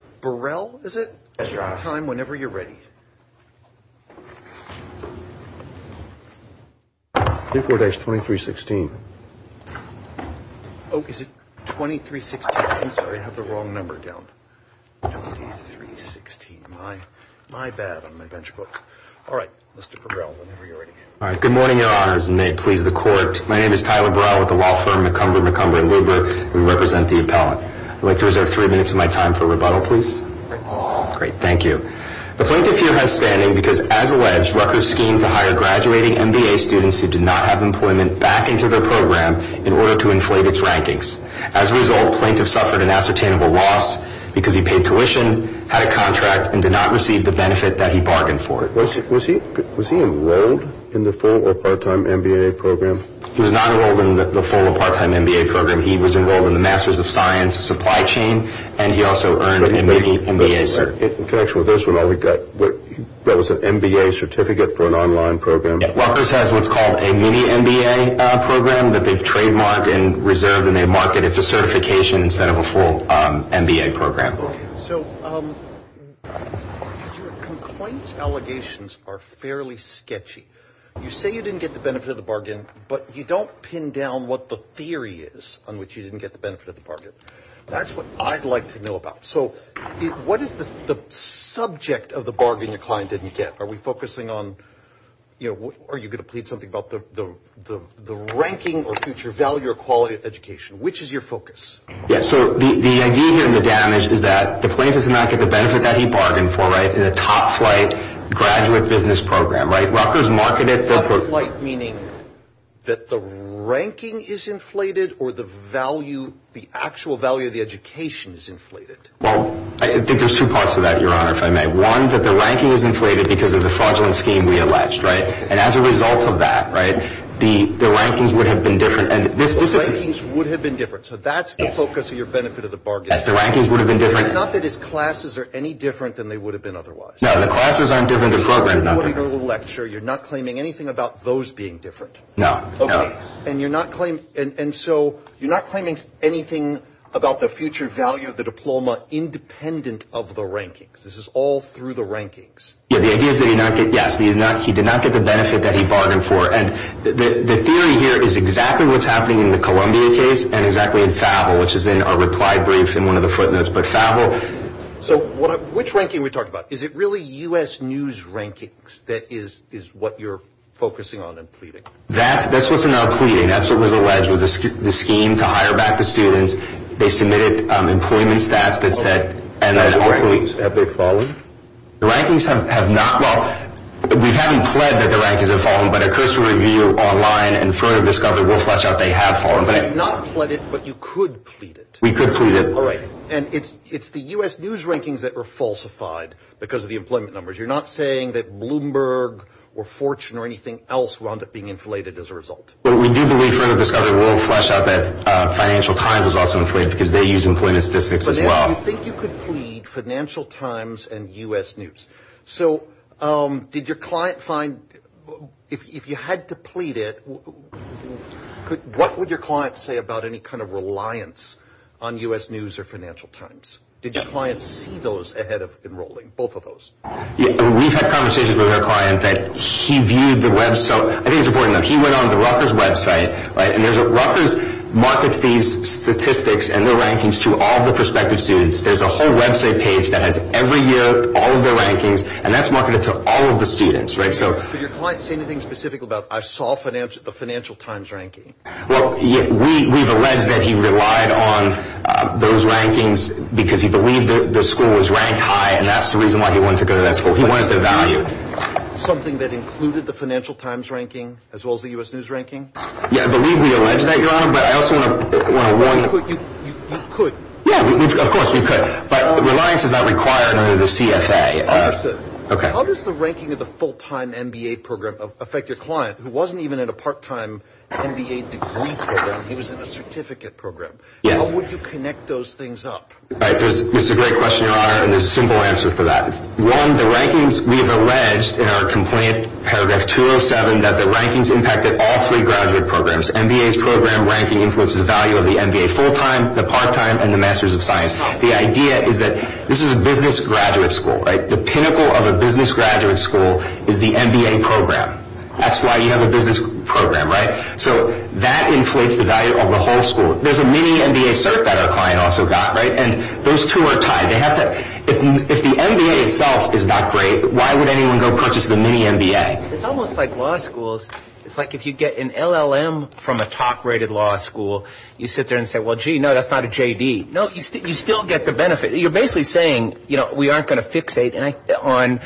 Mr. Burrell, is it? Yes, Your Honor. At the right time, whenever you're ready. 24-2316. Oh, is it 2316? I'm sorry, I have the wrong number down. 2316, my bad on my bench book. All right, Mr. Burrell, whenever you're ready. All right, good morning, Your Honors, and may it please the Court. My name is Tyler Burrell with the law firm McCumber, McCumber & Luber. We represent the appellant. I'd like to reserve three minutes of my time for rebuttal, please. Great, thank you. The plaintiff here has standing because, as alleged, Rutgers schemed to hire graduating MBA students who did not have employment back into their program in order to inflate its rankings. As a result, the plaintiff suffered an ascertainable loss because he paid tuition, had a contract, and did not receive the benefit that he bargained for. Was he enrolled in the full or part-time MBA program? He was not enrolled in the full or part-time MBA program. He was enrolled in the Masters of Science supply chain, and he also earned a mini-MBA certificate. In connection with this, that was an MBA certificate for an online program? Rutgers has what's called a mini-MBA program that they've trademarked and reserved, and they mark it as a certification instead of a full MBA program. So your complaint's allegations are fairly sketchy. You say you didn't get the benefit of the bargain, but you don't pin down what the theory is on which you didn't get the benefit of the bargain. That's what I'd like to know about. What is the subject of the bargain your client didn't get? Are you going to plead something about the ranking or future value or quality of education? Which is your focus? The idea here in the damage is that the plaintiff did not get the benefit that he bargained for in a top-flight graduate business program. Rutgers marketed the program. Top-flight meaning that the ranking is inflated or the actual value of the education is inflated? Well, I think there's two parts to that, Your Honor, if I may. One, that the ranking is inflated because of the fraudulent scheme we alleged. And as a result of that, the rankings would have been different. The rankings would have been different. So that's the focus of your benefit of the bargain. Yes, the rankings would have been different. It's not that his classes are any different than they would have been otherwise. No, the classes aren't different, the program's not different. You're not claiming anything about those being different. No. Okay. And so you're not claiming anything about the future value of the diploma independent of the rankings. This is all through the rankings. Yes, he did not get the benefit that he bargained for. And the theory here is exactly what's happening in the Columbia case and exactly in FAVL, which is in our reply brief in one of the footnotes, but FAVL. So which ranking are we talking about? Is it really U.S. news rankings that is what you're focusing on and pleading? That's what's in our pleading. That's what was alleged was the scheme to hire back the students. They submitted employment stats that said. Have they fallen? The rankings have not. Well, we haven't pled that the rankings have fallen, but a cursory review online in front of this government will flesh out they have fallen. You have not pled it, but you could plead it. We could plead it. All right. And it's the U.S. news rankings that were falsified because of the employment numbers. You're not saying that Bloomberg or Fortune or anything else wound up being inflated as a result. But we do believe from the Discovery World flesh out that Financial Times was also inflated because they use employment statistics as well. You think you could plead Financial Times and U.S. news. So did your client find, if you had to plead it, what would your client say about any kind of reliance on U.S. news or Financial Times? Did your client see those ahead of enrolling, both of those? We've had conversations with our client that he viewed the website. I think it's important that he went on the Rutgers website. Rutgers markets these statistics and the rankings to all the prospective students. There's a whole website page that has every year all of the rankings, and that's marketed to all of the students. Did your client say anything specific about, I saw the Financial Times ranking? Well, we've alleged that he relied on those rankings because he believed the school was ranked high, and that's the reason why he wanted to go to that school. He wanted the value. Something that included the Financial Times ranking as well as the U.S. news ranking? Yeah, I believe we allege that, Your Honor, but I also want to warn you. You could. Yeah, of course we could, but reliance is not required under the CFA. I understand. How does the ranking of the full-time MBA program affect your client, who wasn't even in a part-time MBA degree program? He was in a certificate program. How would you connect those things up? That's a great question, Your Honor, and there's a simple answer for that. One, the rankings, we have alleged in our complaint, paragraph 207, that the rankings impacted all three graduate programs. MBA's program ranking influences the value of the MBA full-time, the part-time, and the Master's of Science. The idea is that this is a business graduate school, right? The pinnacle of a business graduate school is the MBA program. That's why you have a business program, right? So that inflates the value of the whole school. There's a mini-MBA cert that our client also got, right? And those two are tied. If the MBA itself is not great, why would anyone go purchase the mini-MBA? It's almost like law schools. It's like if you get an LLM from a top-rated law school, you sit there and say, well, gee, no, that's not a JD. No, you still get the benefit. You're basically saying, you know, we aren't going to fixate on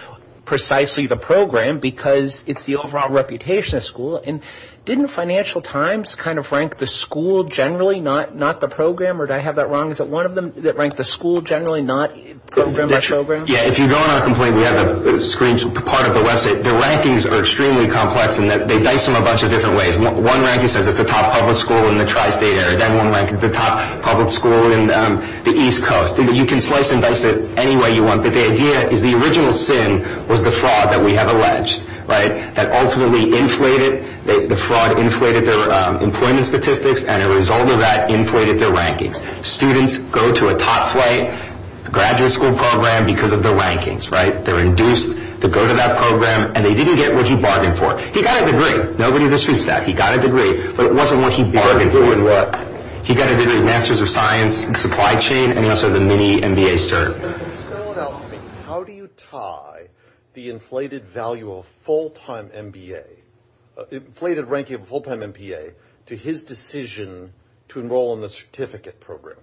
precisely the program because it's the overall reputation of the school. And didn't Financial Times kind of rank the school generally, not the program? Or did I have that wrong? Is it one of them that ranked the school generally, not program by program? Yeah, if you go on our complaint, we have a screen part of the website. The rankings are extremely complex in that they dice them a bunch of different ways. One ranking says it's the top public school in the tri-state area. Then one ranked the top public school in the East Coast. You can slice and dice it any way you want. But the idea is the original sin was the fraud that we have alleged, right, that ultimately inflated. The fraud inflated their employment statistics. And a result of that inflated their rankings. Students go to a top flight graduate school program because of the rankings, right? They're induced to go to that program. And they didn't get what he bargained for. He got a degree. Nobody disputes that. He got a degree. But it wasn't what he bargained for. It wasn't what? He got a degree in Masters of Science in supply chain and also the mini MBA cert. How do you tie the inflated value of full-time MBA, inflated ranking of a full-time MBA, to his decision to enroll in the certificate program?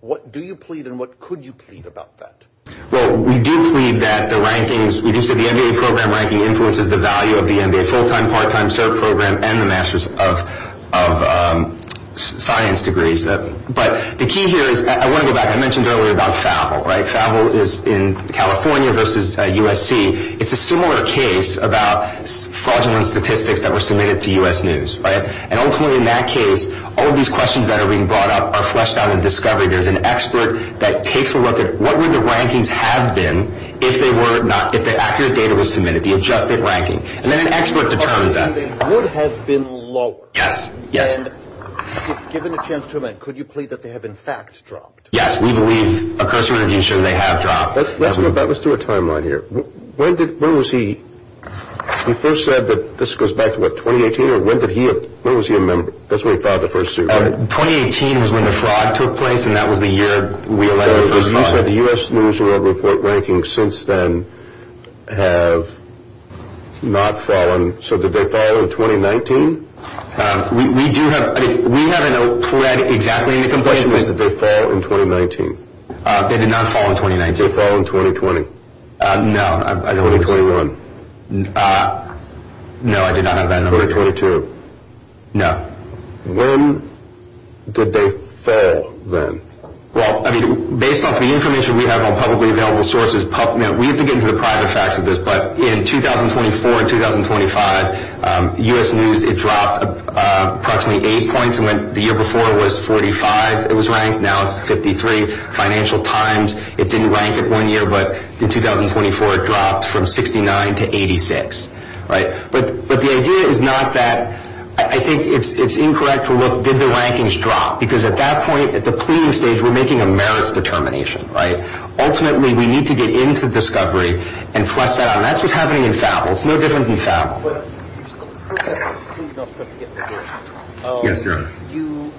What do you plead and what could you plead about that? Well, we do plead that the rankings, we do say the MBA program ranking influences the value of the MBA, full-time, part-time, cert program and the Masters of Science degrees. But the key here is, I want to go back. I mentioned earlier about FAVL, right? FAVL is in California versus USC. It's a similar case about fraudulent statistics that were submitted to U.S. News, right? And ultimately in that case, all of these questions that are being brought up are fleshed out in discovery. There's an expert that takes a look at what would the rankings have been if they were not, if the accurate data was submitted, the adjusted ranking. And then an expert determines that. And they would have been lower. Yes, yes. And if given a chance to amend, could you plead that they have, in fact, dropped? Yes, we believe, of course, we want to be sure they have dropped. Let's go back, let's do a timeline here. When did, when was he, he first said that, this goes back to what, 2018? Or when did he, when was he a member? That's when he filed the first suit, right? 2018 was when the fraud took place and that was the year we elected him. Because you said the U.S. News and World Report rankings since then have not fallen. So did they fall in 2019? We do have, I mean, we haven't pled exactly in the complaint. The question is, did they fall in 2019? They did not fall in 2019. Did they fall in 2020? No, I don't believe so. No, I did not have that number. 2022? No. When did they fall then? Well, I mean, based off the information we have on publicly available sources, we have to get into the private facts of this, but in 2024 and 2025, U.S. News, it dropped approximately eight points. The year before it was 45. It was ranked, now it's 53. Financial Times, it didn't rank in one year, but in 2024 it dropped from 69 to 86. But the idea is not that, I think it's incorrect to look, did the rankings drop? Because at that point, at the pleading stage, we're making a merits determination, right? So, ultimately, we need to get into discovery and flesh that out. And that's what's happening in FABL. It's no different than FABL. Yes, John. You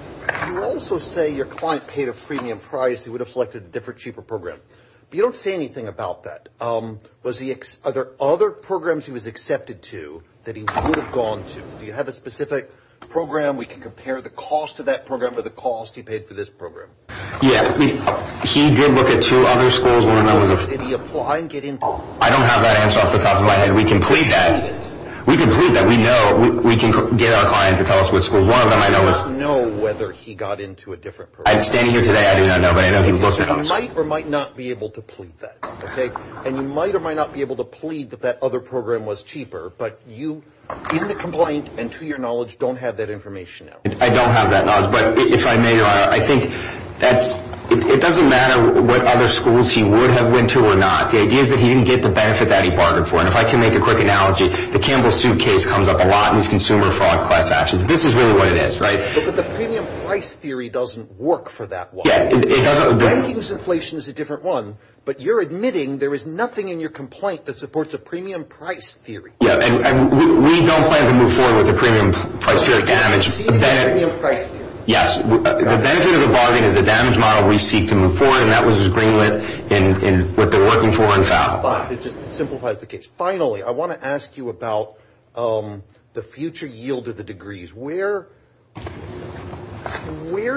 also say your client paid a premium price. He would have selected a different, cheaper program. But you don't say anything about that. Are there other programs he was accepted to that he would have gone to? Do you have a specific program? We can compare the cost of that program with the cost he paid for this program. Yes. He did look at two other schools. I don't have that answer off the top of my head. We can plead that. We can plead that. We know. We can get our client to tell us which school. One of them I know was- I do not know whether he got into a different program. I'm standing here today. I do not know. But I know he looked at us. You might or might not be able to plead that. And you might or might not be able to plead that that other program was cheaper. But you, in the complaint, and to your knowledge, don't have that information. I don't have that knowledge. But if I may, Your Honor, I think it doesn't matter what other schools he would have went to or not. The idea is that he didn't get the benefit that he bargained for. And if I can make a quick analogy, the Campbell suitcase comes up a lot in these consumer fraud class actions. This is really what it is, right? But the premium price theory doesn't work for that one. Yeah, it doesn't. Banking's inflation is a different one. But you're admitting there is nothing in your complaint that supports a premium price theory. Yeah, and we don't plan to move forward with a premium price theory. Yes. The benefit of the bargaining is the damage model we seek to move forward. And that was his agreement in what they're working for in foul. It just simplifies the case. Finally, I want to ask you about the future yield of the degrees. Where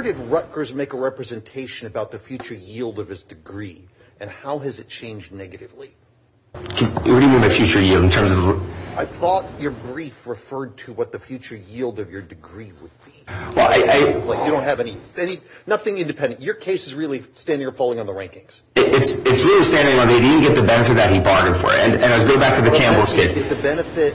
did Rutgers make a representation about the future yield of his degree? And how has it changed negatively? What do you mean by future yield in terms of? I thought your brief referred to what the future yield of your degree would be. Well, I. You don't have anything. Nothing independent. Your case is really standing or falling on the rankings. It's really standing on it. He didn't get the benefit that he bargained for. And I'll go back to the Campbell suitcase. The benefit.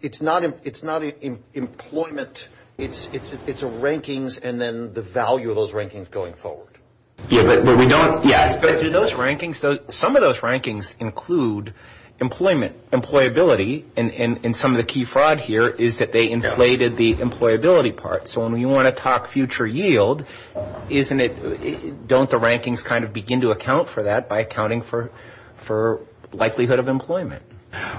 It's not employment. It's a rankings and then the value of those rankings going forward. Yeah, but we don't. Yes. Some of those rankings include employment, employability. And some of the key fraud here is that they inflated the employability part. So when you want to talk future yield, isn't it? Don't the rankings kind of begin to account for that by accounting for likelihood of employment?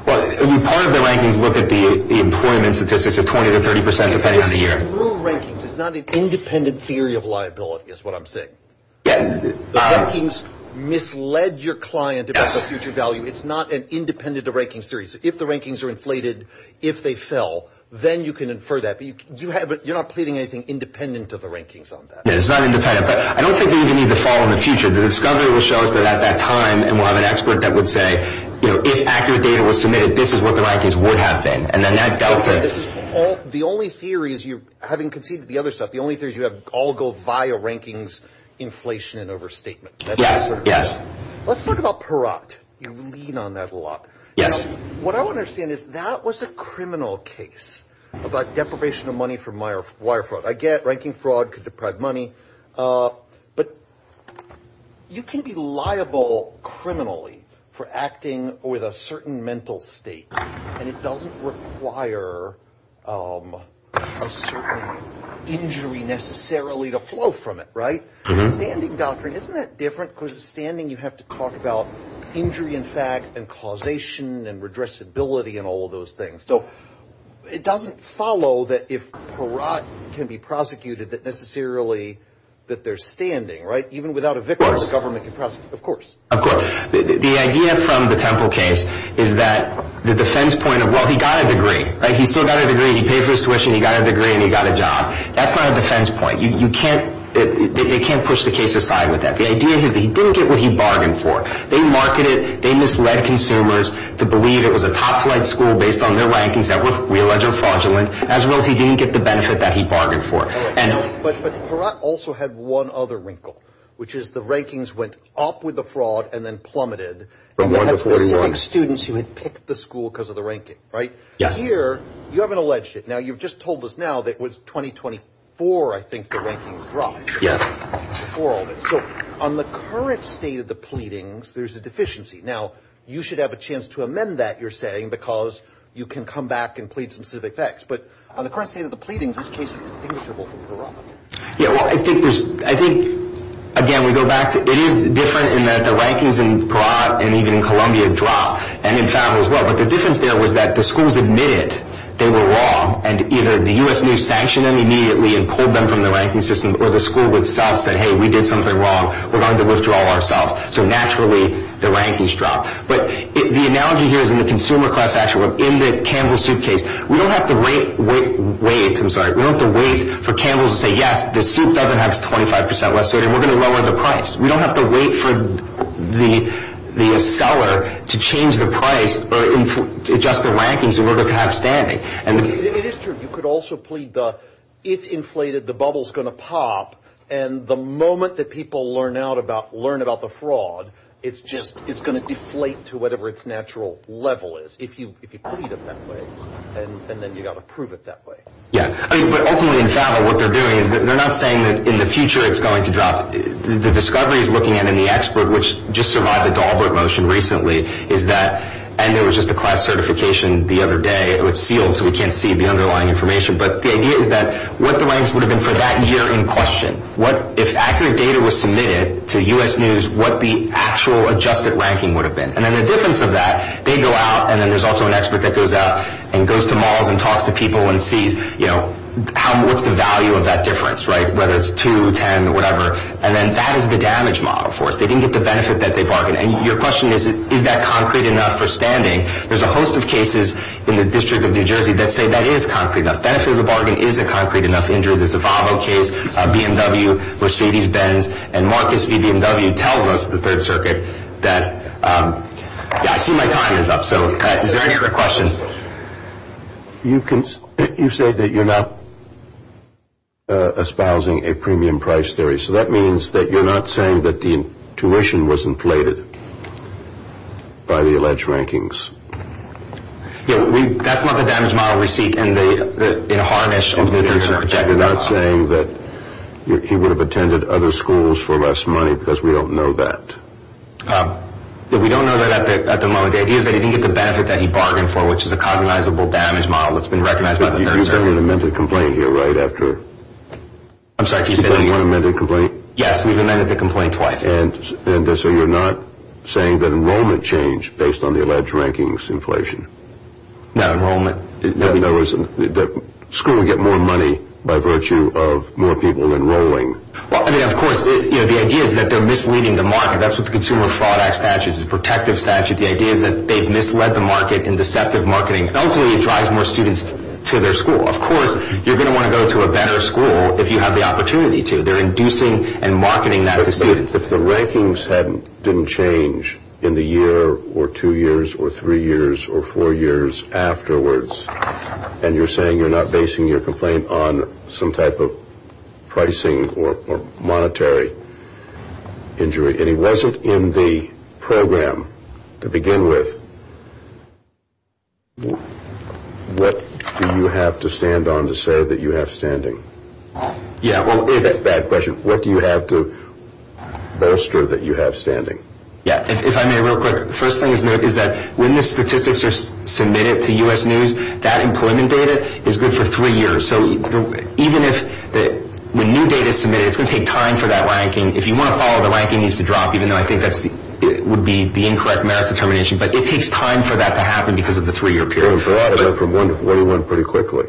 Well, part of the rankings look at the employment statistics of 20 to 30 percent depending on the year. It's not an independent theory of liability is what I'm saying. Yeah. The rankings misled your client. That's a future value. It's not an independent of ranking series. If the rankings are inflated, if they fell, then you can infer that. But you have it. You're not pleading anything independent of the rankings on that. It's not independent. But I don't think they even need to fall in the future. The discovery will show us that at that time and we'll have an expert that would say, you know, if accurate data was submitted, this is what the rankings would have been. And then that. All the only theory is you having conceded the other stuff. The only thing is you have all go via rankings, inflation and overstatement. Yes. Yes. Let's talk about Perot. You lean on that a lot. Yes. What I want to say is that was a criminal case about deprivation of money from my wife. I get ranking fraud could deprive money. But you can be liable criminally for acting with a certain mental state. And it doesn't require a certain injury necessarily to flow from it. Right. Standing doctrine. Isn't that different? Standing. You have to talk about injury, in fact, and causation and redress ability and all of those things. So it doesn't follow that if Perot can be prosecuted, that necessarily that they're standing right. Even without a victim, the government can prosecute. Of course. The idea from the Temple case is that the defense point of, well, he got a degree. He still got a degree. He paid for his tuition. He got a degree and he got a job. That's not a defense point. You can't. They can't push the case aside with that. The idea is he didn't get what he bargained for. They marketed. They misled consumers to believe it was a top flight school based on their rankings that we allege are fraudulent. As well, he didn't get the benefit that he bargained for. But Perot also had one other wrinkle, which is the rankings went up with the fraud and then plummeted. From 1 to 41. Students who had picked the school because of the ranking. Right? Yes. Here, you haven't alleged it. Now, you've just told us now that it was 2024, I think, the rankings dropped. Yes. Before all this. So on the current state of the pleadings, there's a deficiency. Now, you should have a chance to amend that, you're saying, because you can come back and plead some civic facts. But on the current state of the pleadings, this case is distinguishable from Perot. Yes. Well, I think, again, we go back to it is different in that the rankings in Perot and even in Columbia drop. And in Favreau as well. But the difference there was that the schools admitted they were wrong. And either the U.S. knew, sanctioned them immediately and pulled them from the ranking system. Or the school itself said, hey, we did something wrong. We're going to withdraw ourselves. So naturally, the rankings dropped. But the analogy here is in the consumer class, actually, in the Campbell suitcase. We don't have to wait for Campbell to say, yes, the soup doesn't have 25 percent less sodium. We're going to lower the price. We don't have to wait for the seller to change the price or adjust the rankings in order to have standing. It is true. You could also plead the it's inflated, the bubble's going to pop. And the moment that people learn about the fraud, it's going to deflate to whatever its natural level is. If you plead it that way, then you've got to prove it that way. Yeah. But ultimately in Favreau, what they're doing is they're not saying that in the future it's going to drop. The discoveries looking at it in the expert, which just survived the Dahlberg motion recently, is that, and it was just a class certification the other day. It was sealed so we can't see the underlying information. But the idea is that what the ranks would have been for that year in question. If accurate data was submitted to U.S. News, what the actual adjusted ranking would have been. And then the difference of that, they go out and then there's also an expert that goes out and goes to malls and talks to people and sees, you know, what's the value of that difference, right, whether it's 2, 10, whatever. And then that is the damage model for us. They didn't get the benefit that they bargained. And your question is, is that concrete enough for standing? There's a host of cases in the District of New Jersey that say that is concrete enough. Benefit of the bargain is a concrete enough injury. There's the Favreau case, BMW, Mercedes-Benz. And Marcus V. BMW tells us, the Third Circuit, that, yeah, I see my time is up. So is there any other questions? You say that you're not espousing a premium price theory. So that means that you're not saying that the tuition was inflated by the alleged rankings. Yeah, that's not the damage model we seek. You're not saying that he would have attended other schools for less money because we don't know that. We don't know that at the moment. The idea is that he didn't get the benefit that he bargained for, which is a cognizable damage model that's been recognized by the Third Circuit. You've got an amended complaint here, right, after? I'm sorry, can you say that again? You've got an amended complaint? Yes, we've amended the complaint twice. And so you're not saying that enrollment changed based on the alleged rankings inflation? No, enrollment. The school would get more money by virtue of more people enrolling. Well, I mean, of course, the idea is that they're misleading the market. That's what the Consumer Fraud Act statute is, a protective statute. The idea is that they've misled the market in deceptive marketing. Ultimately, it drives more students to their school. Of course, you're going to want to go to a better school if you have the opportunity to. They're inducing and marketing that to students. If the rankings didn't change in the year or two years or three years or four years afterwards, and you're saying you're not basing your complaint on some type of pricing or monetary injury, and he wasn't in the program to begin with, what do you have to stand on to say that you have standing? That's a bad question. What do you have to bolster that you have standing? Yeah, if I may real quick, the first thing to note is that when the statistics are submitted to U.S. News, that employment data is good for three years. So even if the new data is submitted, it's going to take time for that ranking. If you want to follow, the ranking needs to drop, even though I think that would be the incorrect merits determination. But it takes time for that to happen because of the three-year period. The parodic went from 1 to 41 pretty quickly.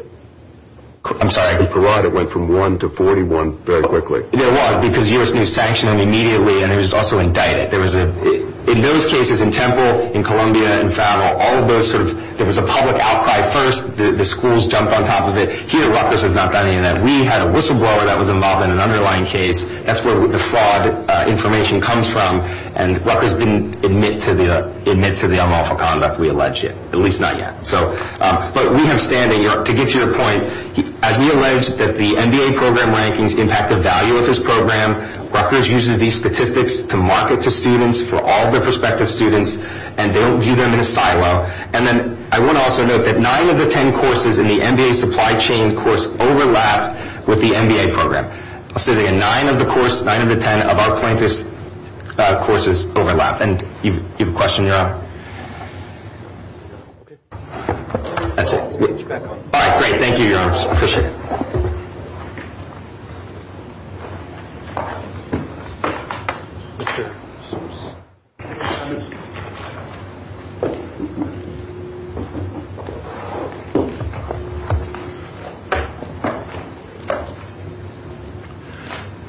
I'm sorry? The parodic went from 1 to 41 very quickly. It was because U.S. News sanctioned him immediately, and he was also indicted. In those cases, in Temple, in Columbia, in Farrell, there was a public outcry first. The schools jumped on top of it. Here, Rutgers has not done any of that. We had a whistleblower that was involved in an underlying case. That's where the fraud information comes from, and Rutgers didn't admit to the unlawful conduct. We allege it, at least not yet. But we have standing. To get to your point, as we allege that the MBA program rankings impact the value of this program, Rutgers uses these statistics to market to students for all their prospective students, and they don't view them in a silo. And then I want to also note that nine of the ten courses in the MBA supply chain course overlap with the MBA program. I'll say that again. Nine of the course, nine of the ten of our plaintiffs' courses overlap. And you have a question, Your Honor? That's it. All right, great. Thank you, Your Honors. I appreciate it.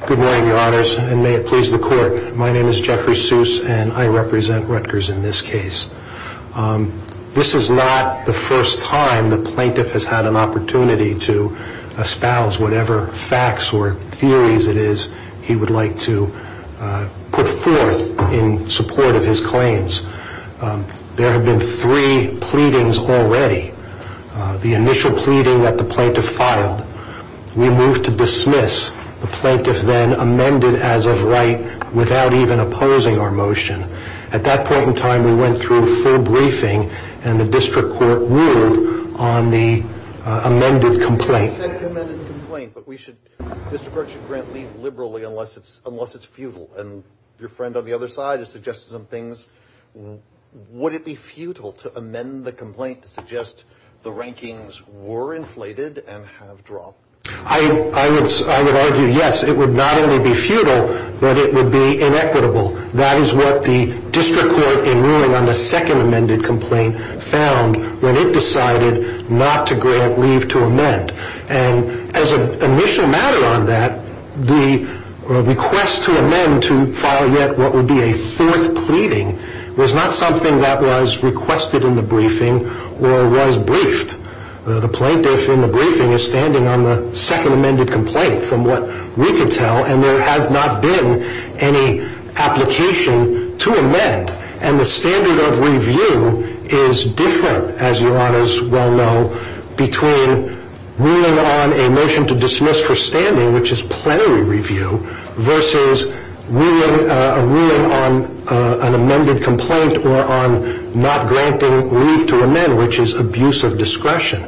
Good morning, Your Honors, and may it please the Court. My name is Jeffrey Seuss, and I represent Rutgers in this case. This is not the first time the plaintiff has had an opportunity to espouse whatever facts or theories it is he would like to put forth in support of his claims. There have been three pleadings already. The initial pleading that the plaintiff filed, we moved to dismiss. The plaintiff then amended as of right without even opposing our motion. At that point in time, we went through a full briefing, and the district court ruled on the amended complaint. You said the amended complaint, but we should, the district court should grant leave liberally unless it's futile. And your friend on the other side has suggested some things. Would it be futile to amend the complaint to suggest the rankings were inflated and have dropped? I would argue yes. It would not only be futile, but it would be inequitable. That is what the district court, in ruling on the second amended complaint, found when it decided not to grant leave to amend. And as an initial matter on that, the request to amend to file yet what would be a fourth pleading was not something that was requested in the briefing or was briefed. The plaintiff in the briefing is standing on the second amended complaint from what we can tell, and there has not been any application to amend. And the standard of review is different, as your honors well know, between ruling on a motion to dismiss for standing, which is plenary review, versus ruling on an amended complaint or on not granting leave to amend, which is abuse of discretion.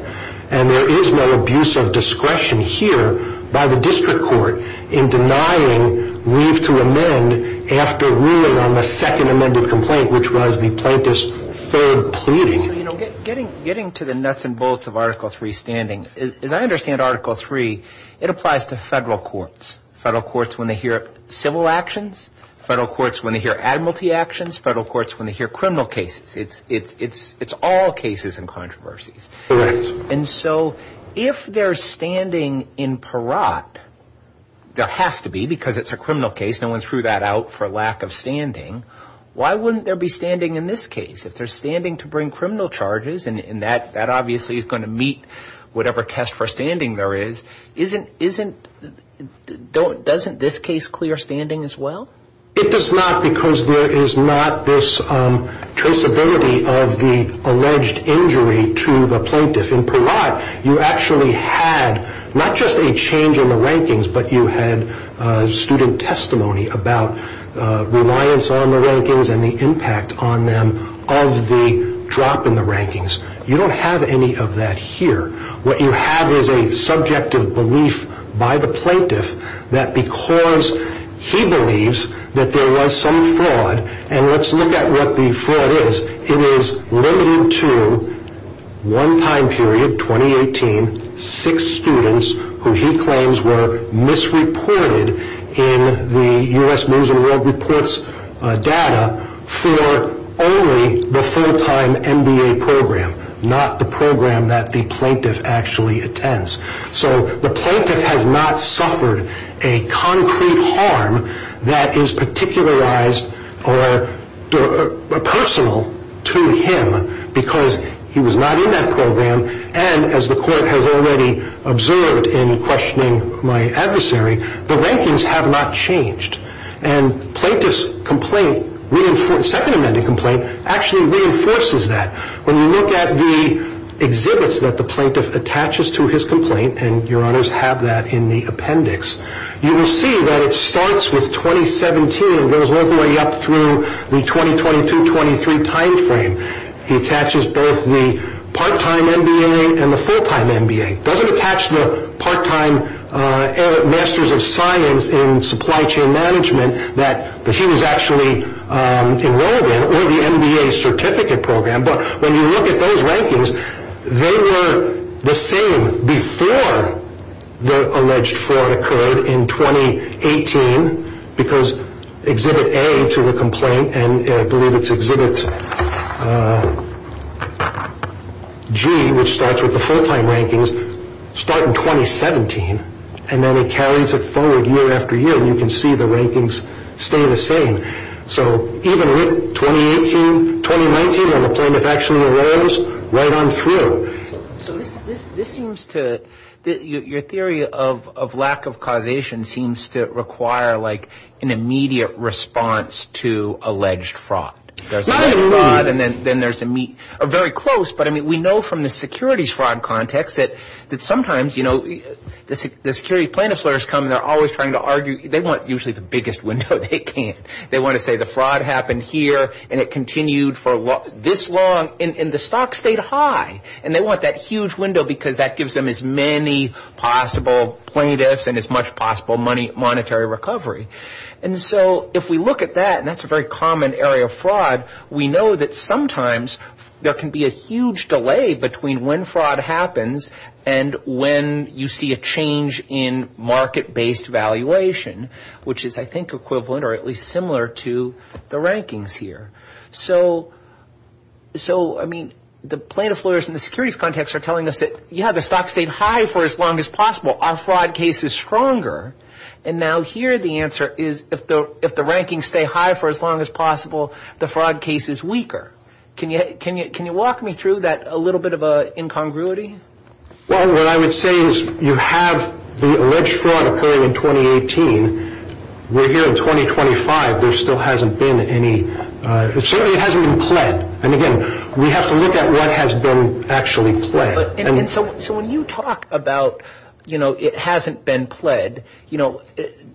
And there is no abuse of discretion here by the district court in denying leave to amend after ruling on the second amended complaint, which was the plaintiff's third pleading. So, you know, getting to the nuts and bolts of Article III standing, as I understand Article III, it applies to federal courts, federal courts when they hear civil actions, federal courts when they hear admiralty actions, federal courts when they hear criminal cases. It's all cases and controversies. Correct. And so if they're standing in parat, there has to be, because it's a criminal case, no one threw that out for lack of standing, why wouldn't there be standing in this case? If they're standing to bring criminal charges, and that obviously is going to meet whatever test for standing there is, doesn't this case clear standing as well? It does not because there is not this traceability of the alleged injury to the plaintiff. In parat, you actually had not just a change in the rankings, but you had student testimony about reliance on the rankings and the impact on them of the drop in the rankings. You don't have any of that here. What you have is a subjective belief by the plaintiff that because he believes that there was some fraud, and let's look at what the fraud is, it is limited to one time period, 2018, six students who he claims were misreported in the U.S. News and World Report's data for only the full-time MBA program, not the program that the plaintiff actually attends. The plaintiff has not suffered a concrete harm that is particularized or personal to him because he was not in that program, and as the court has already observed in questioning my adversary, the rankings have not changed. The second amended complaint actually reinforces that. When you look at the exhibits that the plaintiff attaches to his complaint, and your honors have that in the appendix, you will see that it starts with 2017 and goes all the way up through the 2022-23 time frame. He attaches both the part-time MBA and the full-time MBA. It doesn't attach the part-time Masters of Science in Supply Chain Management that he was actually enrolled in or the MBA certificate program, but when you look at those rankings, they were the same before the alleged fraud occurred in 2018 because Exhibit A to the complaint, and I believe it's Exhibit G, which starts with the full-time rankings, start in 2017, and then it carries it forward year after year, and you can see the rankings stay the same. So even with 2018, 2019, when the plaintiff actually enrolls, right on through. So this seems to – your theory of lack of causation seems to require like an immediate response to alleged fraud. There's a lot of fraud, and then there's a – or very close, but I mean we know from the securities fraud context that sometimes, you know, the security plaintiff lawyers come, and they're always trying to argue – they want usually the biggest window they can. They want to say the fraud happened here, and it continued for this long, and the stock stayed high, and they want that huge window because that gives them as many possible plaintiffs and as much possible monetary recovery. And so if we look at that, and that's a very common area of fraud, we know that sometimes there can be a huge delay between when fraud happens and when you see a change in market-based valuation, which is I think equivalent or at least similar to the rankings here. So I mean the plaintiff lawyers in the securities context are telling us that, yeah, the stock stayed high for as long as possible. Our fraud case is stronger. And now here the answer is if the rankings stay high for as long as possible, the fraud case is weaker. Can you walk me through that a little bit of an incongruity? Well, what I would say is you have the alleged fraud occurring in 2018. We're here in 2025. There still hasn't been any – certainly it hasn't been pled. And again, we have to look at what has been actually pled. So when you talk about, you know, it hasn't been pled, you know,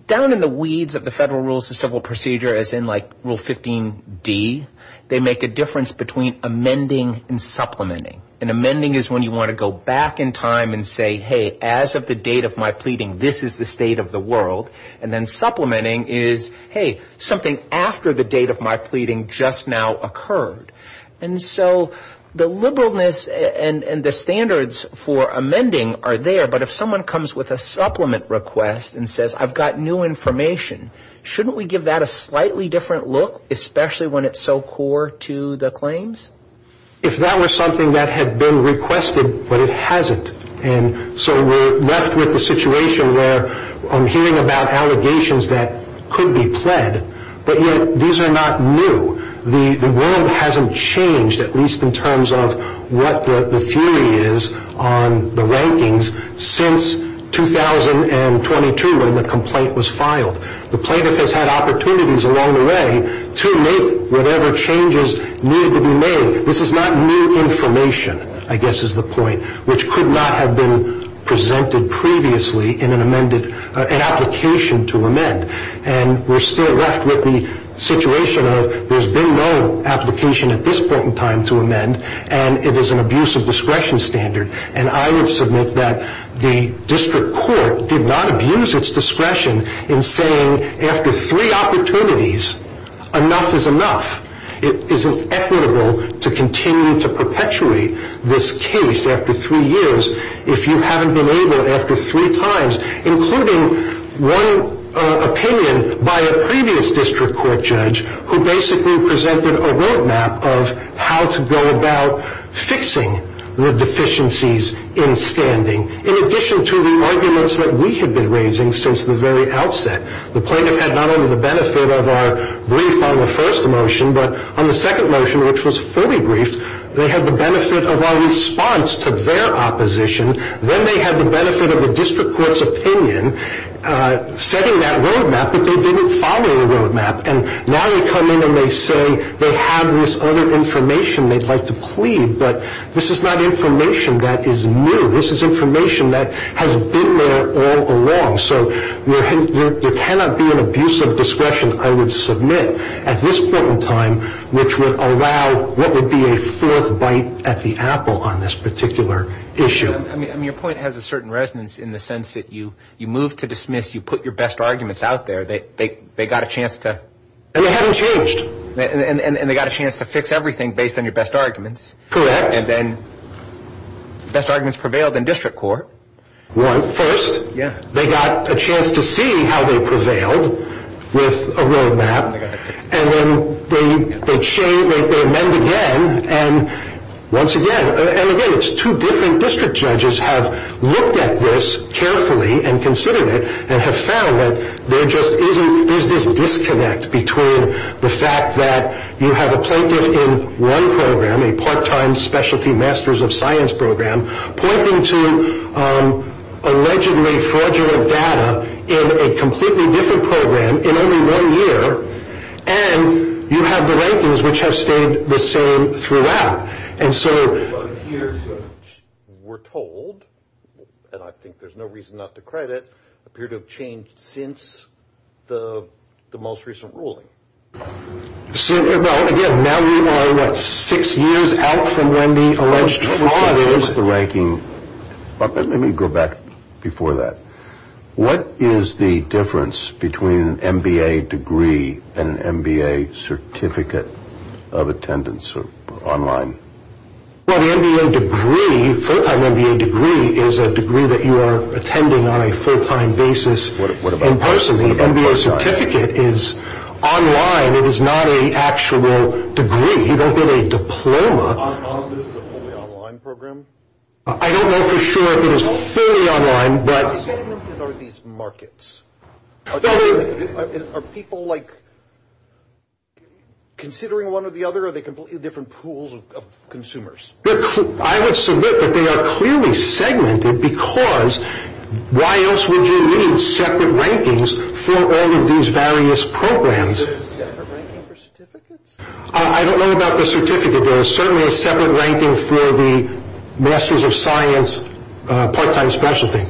down in the weeds of the Federal Rules of Civil Procedure as in like Rule 15D, they make a difference between amending and supplementing. And amending is when you want to go back in time and say, hey, as of the date of my pleading, this is the state of the world. And then supplementing is, hey, something after the date of my pleading just now occurred. And so the liberalness and the standards for amending are there, but if someone comes with a supplement request and says, I've got new information, shouldn't we give that a slightly different look, especially when it's so core to the claims? If that were something that had been requested, but it hasn't, and so we're left with the situation where I'm hearing about allegations that could be pled, but yet these are not new. The world hasn't changed, at least in terms of what the theory is on the rankings, since 2022 when the complaint was filed. The plaintiff has had opportunities along the way to make whatever changes needed to be made. This is not new information, I guess is the point, which could not have been presented previously in an amended, an application to amend. And we're still left with the situation of there's been no application at this point in time to amend, and it is an abuse of discretion standard. And I would submit that the district court did not abuse its discretion in saying, after three opportunities, enough is enough. It isn't equitable to continue to perpetuate this case after three years if you haven't been able after three times, including one opinion by a previous district court judge who basically presented a roadmap of how to go about fixing the deficiencies in standing. In addition to the arguments that we had been raising since the very outset, the plaintiff had not only the benefit of our brief on the first motion, but on the second motion, which was fully briefed, they had the benefit of our response to their opposition. Then they had the benefit of a district court's opinion setting that roadmap, but they didn't follow the roadmap. And now they come in and they say they have this other information they'd like to plead, but this is not information that is new. This is information that has been there all along. So there cannot be an abuse of discretion, I would submit, at this point in time, which would allow what would be a fourth bite at the apple on this particular issue. I mean, your point has a certain resonance in the sense that you move to dismiss, you put your best arguments out there. They got a chance to. And they haven't changed. And they got a chance to fix everything based on your best arguments. Correct. And then best arguments prevailed in district court. First, they got a chance to see how they prevailed with a roadmap. And then they amend again, and once again, and again it's two different district judges have looked at this carefully and considered it and have found that there's this disconnect between the fact that you have a plaintiff in one program, a part-time specialty master's of science program, pointing to allegedly fraudulent data in a completely different program in only one year, and you have the rankings which have stayed the same throughout. And so we're told, and I think there's no reason not to credit, appear to have changed since the most recent ruling. Well, again, now we are, what, six years out from when the alleged fraud is the ranking. But let me go back before that. What is the difference between an MBA degree and an MBA certificate of attendance online? Well, the MBA degree, full-time MBA degree, is a degree that you are attending on a full-time basis in person. The MBA certificate is online. It is not an actual degree. You don't get a diploma. This is a fully online program? I don't know for sure if it is fully online. How segmented are these markets? Are people, like, considering one or the other? Are they completely different pools of consumers? I would submit that they are clearly segmented because why else would you need separate rankings for all of these various programs? Is there a separate ranking for certificates? I don't know about the certificate. There is certainly a separate ranking for the Masters of Science part-time specialty.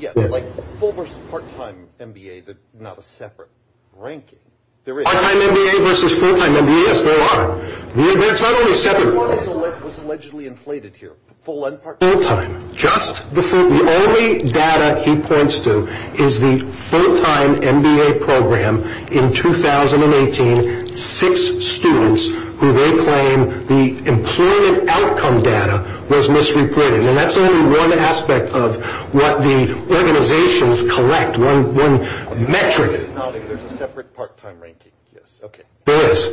Yes, like full versus part-time MBA, not a separate ranking. Part-time MBA versus full-time MBA, yes, there are. That's not only separate. What was allegedly inflated here? Full and part-time? Full-time. The only data he points to is the full-time MBA program in 2018. Six students who they claim the employment outcome data was misreported. And that's only one aspect of what the organizations collect, one metric. There's a separate part-time ranking, yes. There is.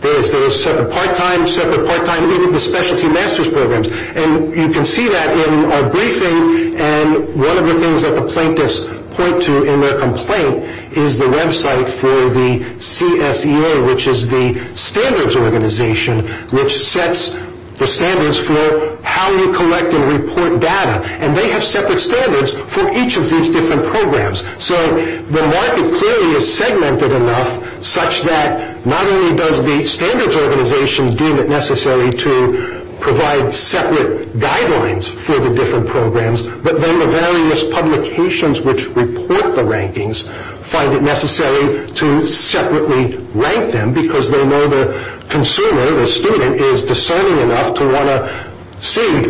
There is. There is separate part-time, separate part-time. Even the specialty master's programs. And you can see that in our briefing. And one of the things that the plaintiffs point to in their complaint is the website for the CSEA, which is the standards organization, which sets the standards for how you collect and report data. And they have separate standards for each of these different programs. So the market clearly is segmented enough such that not only does the standards organization deem it necessary to provide separate guidelines for the different programs, but then the various publications which report the rankings find it necessary to separately rank them because they know the consumer, the student, is discerning enough to want to see,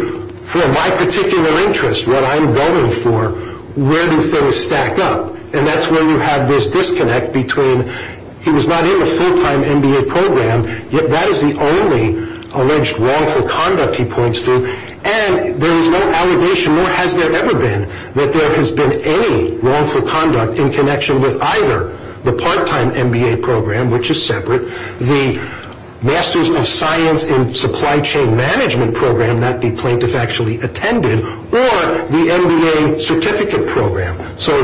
for my particular interest, what I'm going for, where do things stack up. And that's where you have this disconnect between he was not in the full-time MBA program, yet that is the only alleged wrongful conduct he points to. And there is no allegation, nor has there ever been, that there has been any wrongful conduct in connection with either the part-time MBA program, which is separate, the Masters of Science in Supply Chain Management program that the plaintiff actually attended, or the MBA certificate program. So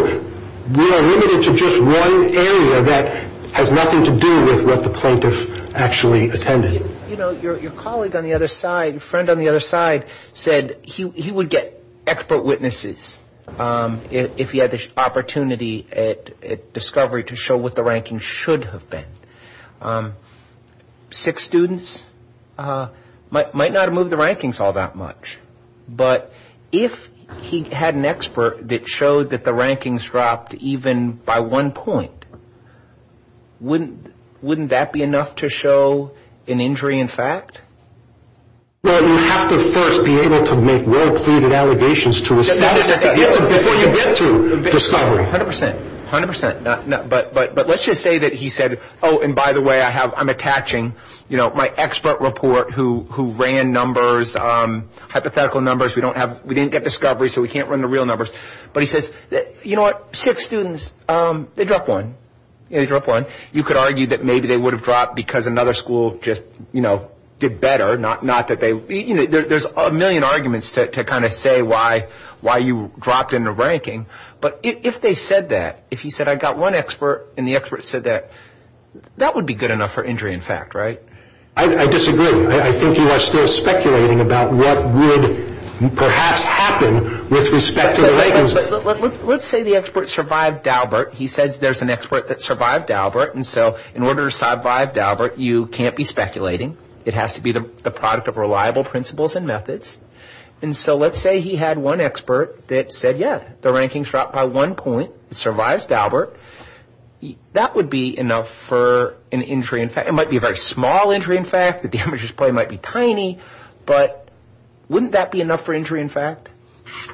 we are limited to just one area that has nothing to do with what the plaintiff actually attended. Your colleague on the other side, friend on the other side, said he would get expert witnesses if he had the opportunity at discovery to show what the rankings should have been. Six students might not have moved the rankings all that much, but if he had an expert that showed that the rankings dropped even by one point, wouldn't that be enough to show an injury in fact? Well, you have to first be able to make well-cluded allegations to establish that they did before you get to discovery. A hundred percent. A hundred percent. But let's just say that he said, oh, and by the way, I'm attaching my expert report who ran numbers, hypothetical numbers. We didn't get discovery, so we can't run the real numbers. But he says, you know what, six students, they dropped one. You could argue that maybe they would have dropped because another school just did better. There are a million arguments to kind of say why you dropped in the ranking. But if they said that, if he said I got one expert and the expert said that, that would be good enough for injury in fact, right? I disagree. I think you are still speculating about what would perhaps happen with respect to the rankings. Let's say the expert survived Daubert. He says there's an expert that survived Daubert, and so in order to survive Daubert, you can't be speculating. It has to be the product of reliable principles and methods. And so let's say he had one expert that said, yeah, the rankings dropped by one point. It survives Daubert. That would be enough for an injury in fact. It might be a very small injury in fact. The damage is probably might be tiny. But wouldn't that be enough for injury in fact?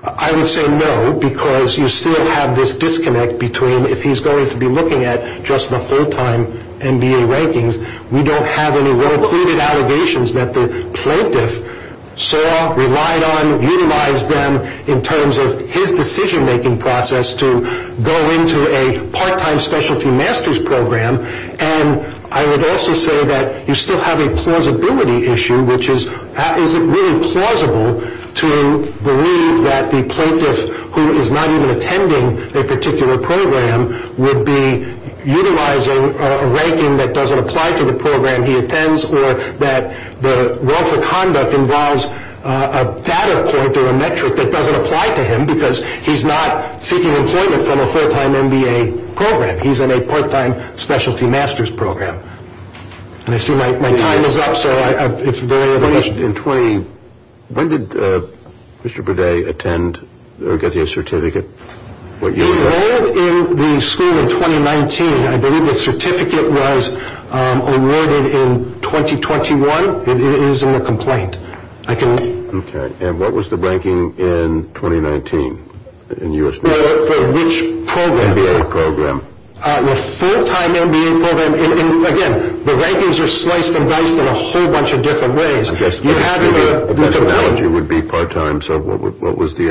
I would say no because you still have this disconnect between if he's going to be looking at just the full-time MBA rankings. We don't have any well-cluded allegations that the plaintiff saw, relied on, utilized them in terms of his decision-making process to go into a part-time specialty master's program. And I would also say that you still have a plausibility issue, which is is it really plausible to believe that the plaintiff who is not even attending a particular program would be utilizing a ranking that doesn't apply to the program he attends or that the role for conduct involves a data point or a metric that doesn't apply to him because he's not seeking employment from a full-time MBA program. He's in a part-time specialty master's program. And I see my time is up, so if there are any other questions. In 20, when did Mr. Burdett attend or get the certificate? He enrolled in the school in 2019. I believe the certificate was awarded in 2021. It is in the complaint. Okay. And what was the ranking in 2019? For which program? MBA program. The full-time MBA program. Again, the rankings are sliced and diced in a whole bunch of different ways. I guess the best analogy would be part-time. So what was the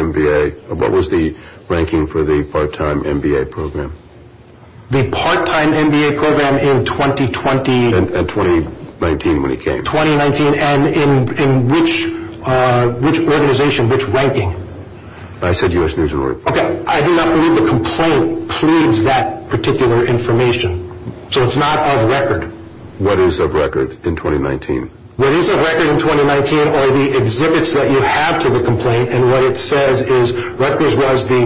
ranking for the part-time MBA program? The part-time MBA program in 2020. And 2019 when he came. 2019. And in which organization, which ranking? I said U.S. News and World Report. Okay. I do not believe the complaint pleads that particular information. So it's not of record. What is of record in 2019? What is of record in 2019 are the exhibits that you have to the complaint. And what it says is records was the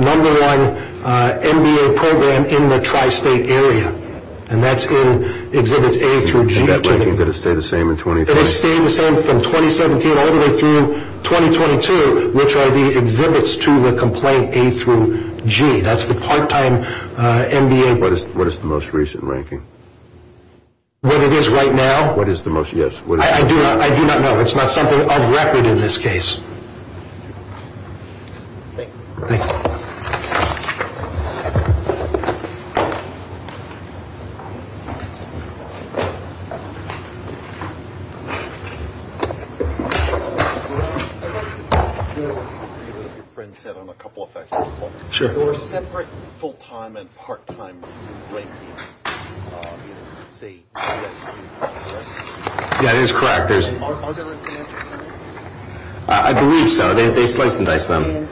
number one MBA program in the tri-state area. And that's in exhibits A through G. And that ranking, did it stay the same in 2020? It stayed the same from 2017 all the way through 2022, which are the exhibits to the complaint A through G. That's the part-time MBA. What is the most recent ranking? What it is right now. What is the most, yes. I do not know. It's not something of record in this case. Thank you. Thank you. Sure. That is correct. I believe so. They slice and dice them.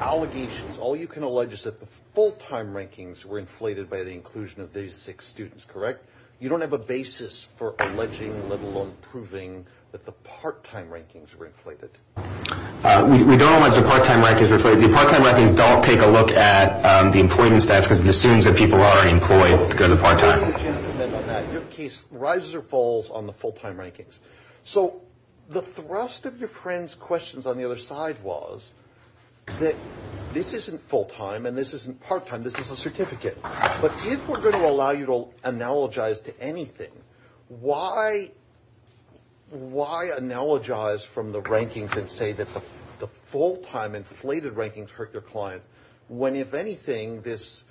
Allegations. All you can allege is that the full-time rankings were inflated by the inclusion of these six students. Correct? You don't have a basis for alleging, let alone proving, that the part-time rankings were inflated. We don't allege the part-time rankings were inflated. The part-time rankings don't take a look at the employment stats because it assumes that people are already employed to go to part-time. Your case rises or falls on the full-time rankings. So the thrust of your friend's questions on the other side was that this isn't full-time and this isn't part-time. This is a certificate. But if we're going to allow you to analogize to anything, why analogize from the rankings and say that the full-time inflated rankings hurt your client, when, if anything, this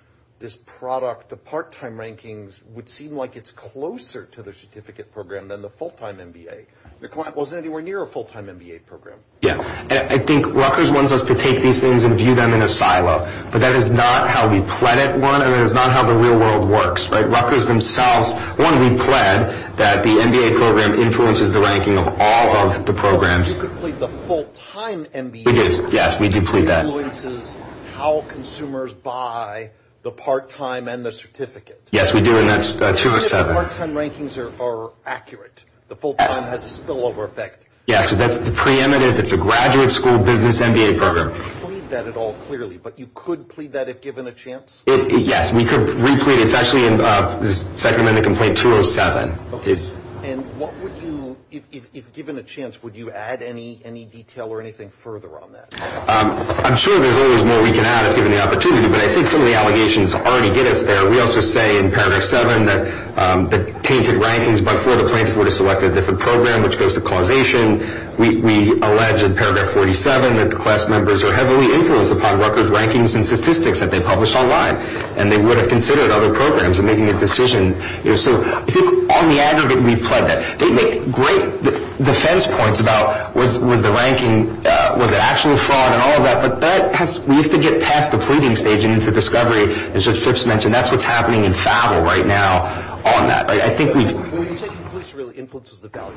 product, the part-time rankings, would seem like it's closer to the certificate program than the full-time MBA. Your client wasn't anywhere near a full-time MBA program. Yeah. I think Rutgers wants us to take these things and view them in a silo. But that is not how we pled at one, and that is not how the real world works. Rutgers themselves want to be pled that the MBA program influences the ranking of all of the programs. We did plead the full-time MBA program. We did. Yes, we did plead that. It influences how consumers buy the part-time and the certificate. Yes, we do, and that's 207. Not if the part-time rankings are accurate. The full-time has a spillover effect. Yeah, so that's the preeminent. It's a graduate school business MBA program. You didn't plead that at all clearly, but you could plead that if given a chance? Yes, we could replead it. It's actually in the second amendment complaint, 207. And what would you, if given a chance, would you add any detail or anything further on that? I'm sure there's always more we can add if given the opportunity, but I think some of the allegations already get us there. We also say in Paragraph 7 that the tainted rankings before the plaintiff would have selected a different program, which goes to causation. We allege in Paragraph 47 that the class members are heavily influenced upon Rutgers' rankings and statistics that they published online, and they would have considered other programs in making a decision. So I think on the aggregate, we've pled that. They make great defense points about was the ranking, was it actually fraud and all of that, but we have to get past the pleading stage and into discovery, as Judge Phipps mentioned. That's what's happening in FAVL right now on that. I think we've… Well, you said influence really influences the value.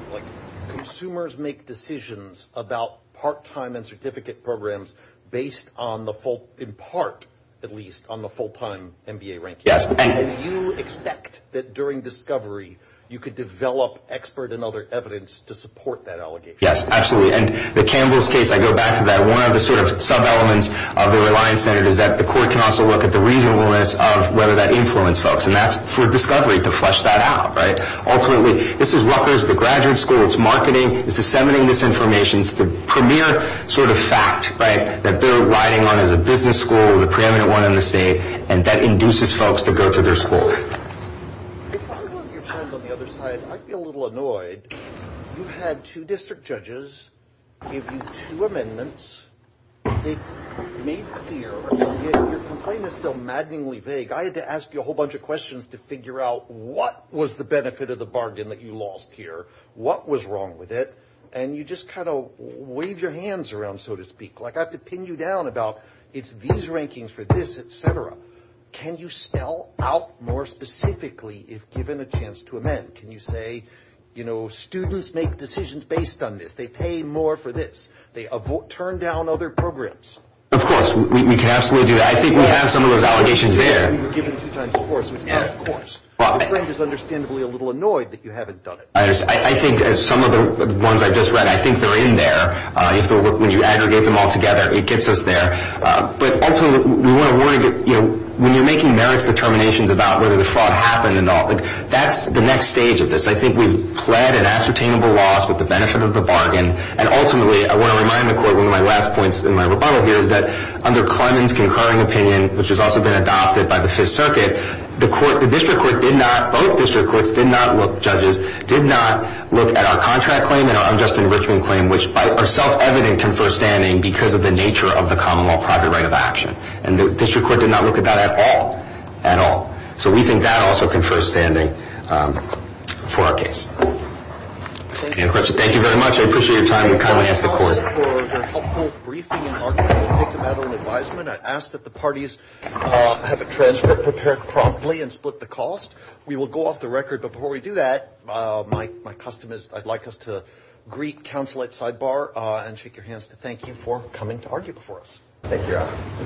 Consumers make decisions about part-time and certificate programs based on the full, in part at least, on the full-time MBA rankings. Yes. And you expect that during discovery, you could develop expert and other evidence to support that allegation. Yes, absolutely. And the Campbell's case, I go back to that. One of the sort of sub-elements of the Reliance Center is that the court can also look at the reasonableness of whether that influenced folks, and that's for discovery to flesh that out, right? Ultimately, this is Rutgers, the graduate school. It's marketing. It's disseminating this information. It's the premier sort of fact, right, that they're riding on as a business school, the preeminent one in the state, and that induces folks to go to their school. If I were your friend on the other side, I'd be a little annoyed. You had two district judges give you two amendments. They made clear. Your complaint is still maddeningly vague. I had to ask you a whole bunch of questions to figure out what was the benefit of the bargain that you lost here, what was wrong with it, and you just kind of wave your hands around, so to speak. Like I have to pin you down about it's these rankings for this, et cetera. Can you spell out more specifically if given a chance to amend? Can you say, you know, students make decisions based on this. They pay more for this. They turn down other programs. Of course. We can absolutely do that. I think we have some of those allegations there. We were given two times the course, which is not a course. My friend is understandably a little annoyed that you haven't done it. I think some of the ones I just read, I think they're in there. When you aggregate them all together, it gets us there. But also we want to get, you know, when you're making merits determinations about whether the fraud happened and all, that's the next stage of this. I think we've pled an ascertainable loss with the benefit of the bargain, and ultimately I want to remind the court one of my last points in my rebuttal here is that under Clemens' concurring opinion, which has also been adopted by the Fifth Circuit, the court, the district court did not, both district courts did not look, did not look at our contract claim and our unjust enrichment claim, which are self-evident confer standing because of the nature of the common law private right of action. And the district court did not look at that at all, at all. So we think that also confers standing for our case. Any other questions? Thank you very much. I appreciate your time. And kindly ask the court. I ask that the parties have a transcript prepared promptly and split the cost. We will go off the record, but before we do that, my custom is I'd like us to greet counsel at sidebar and shake your hands to thank you for coming to argue before us. Thank you, Your Honor.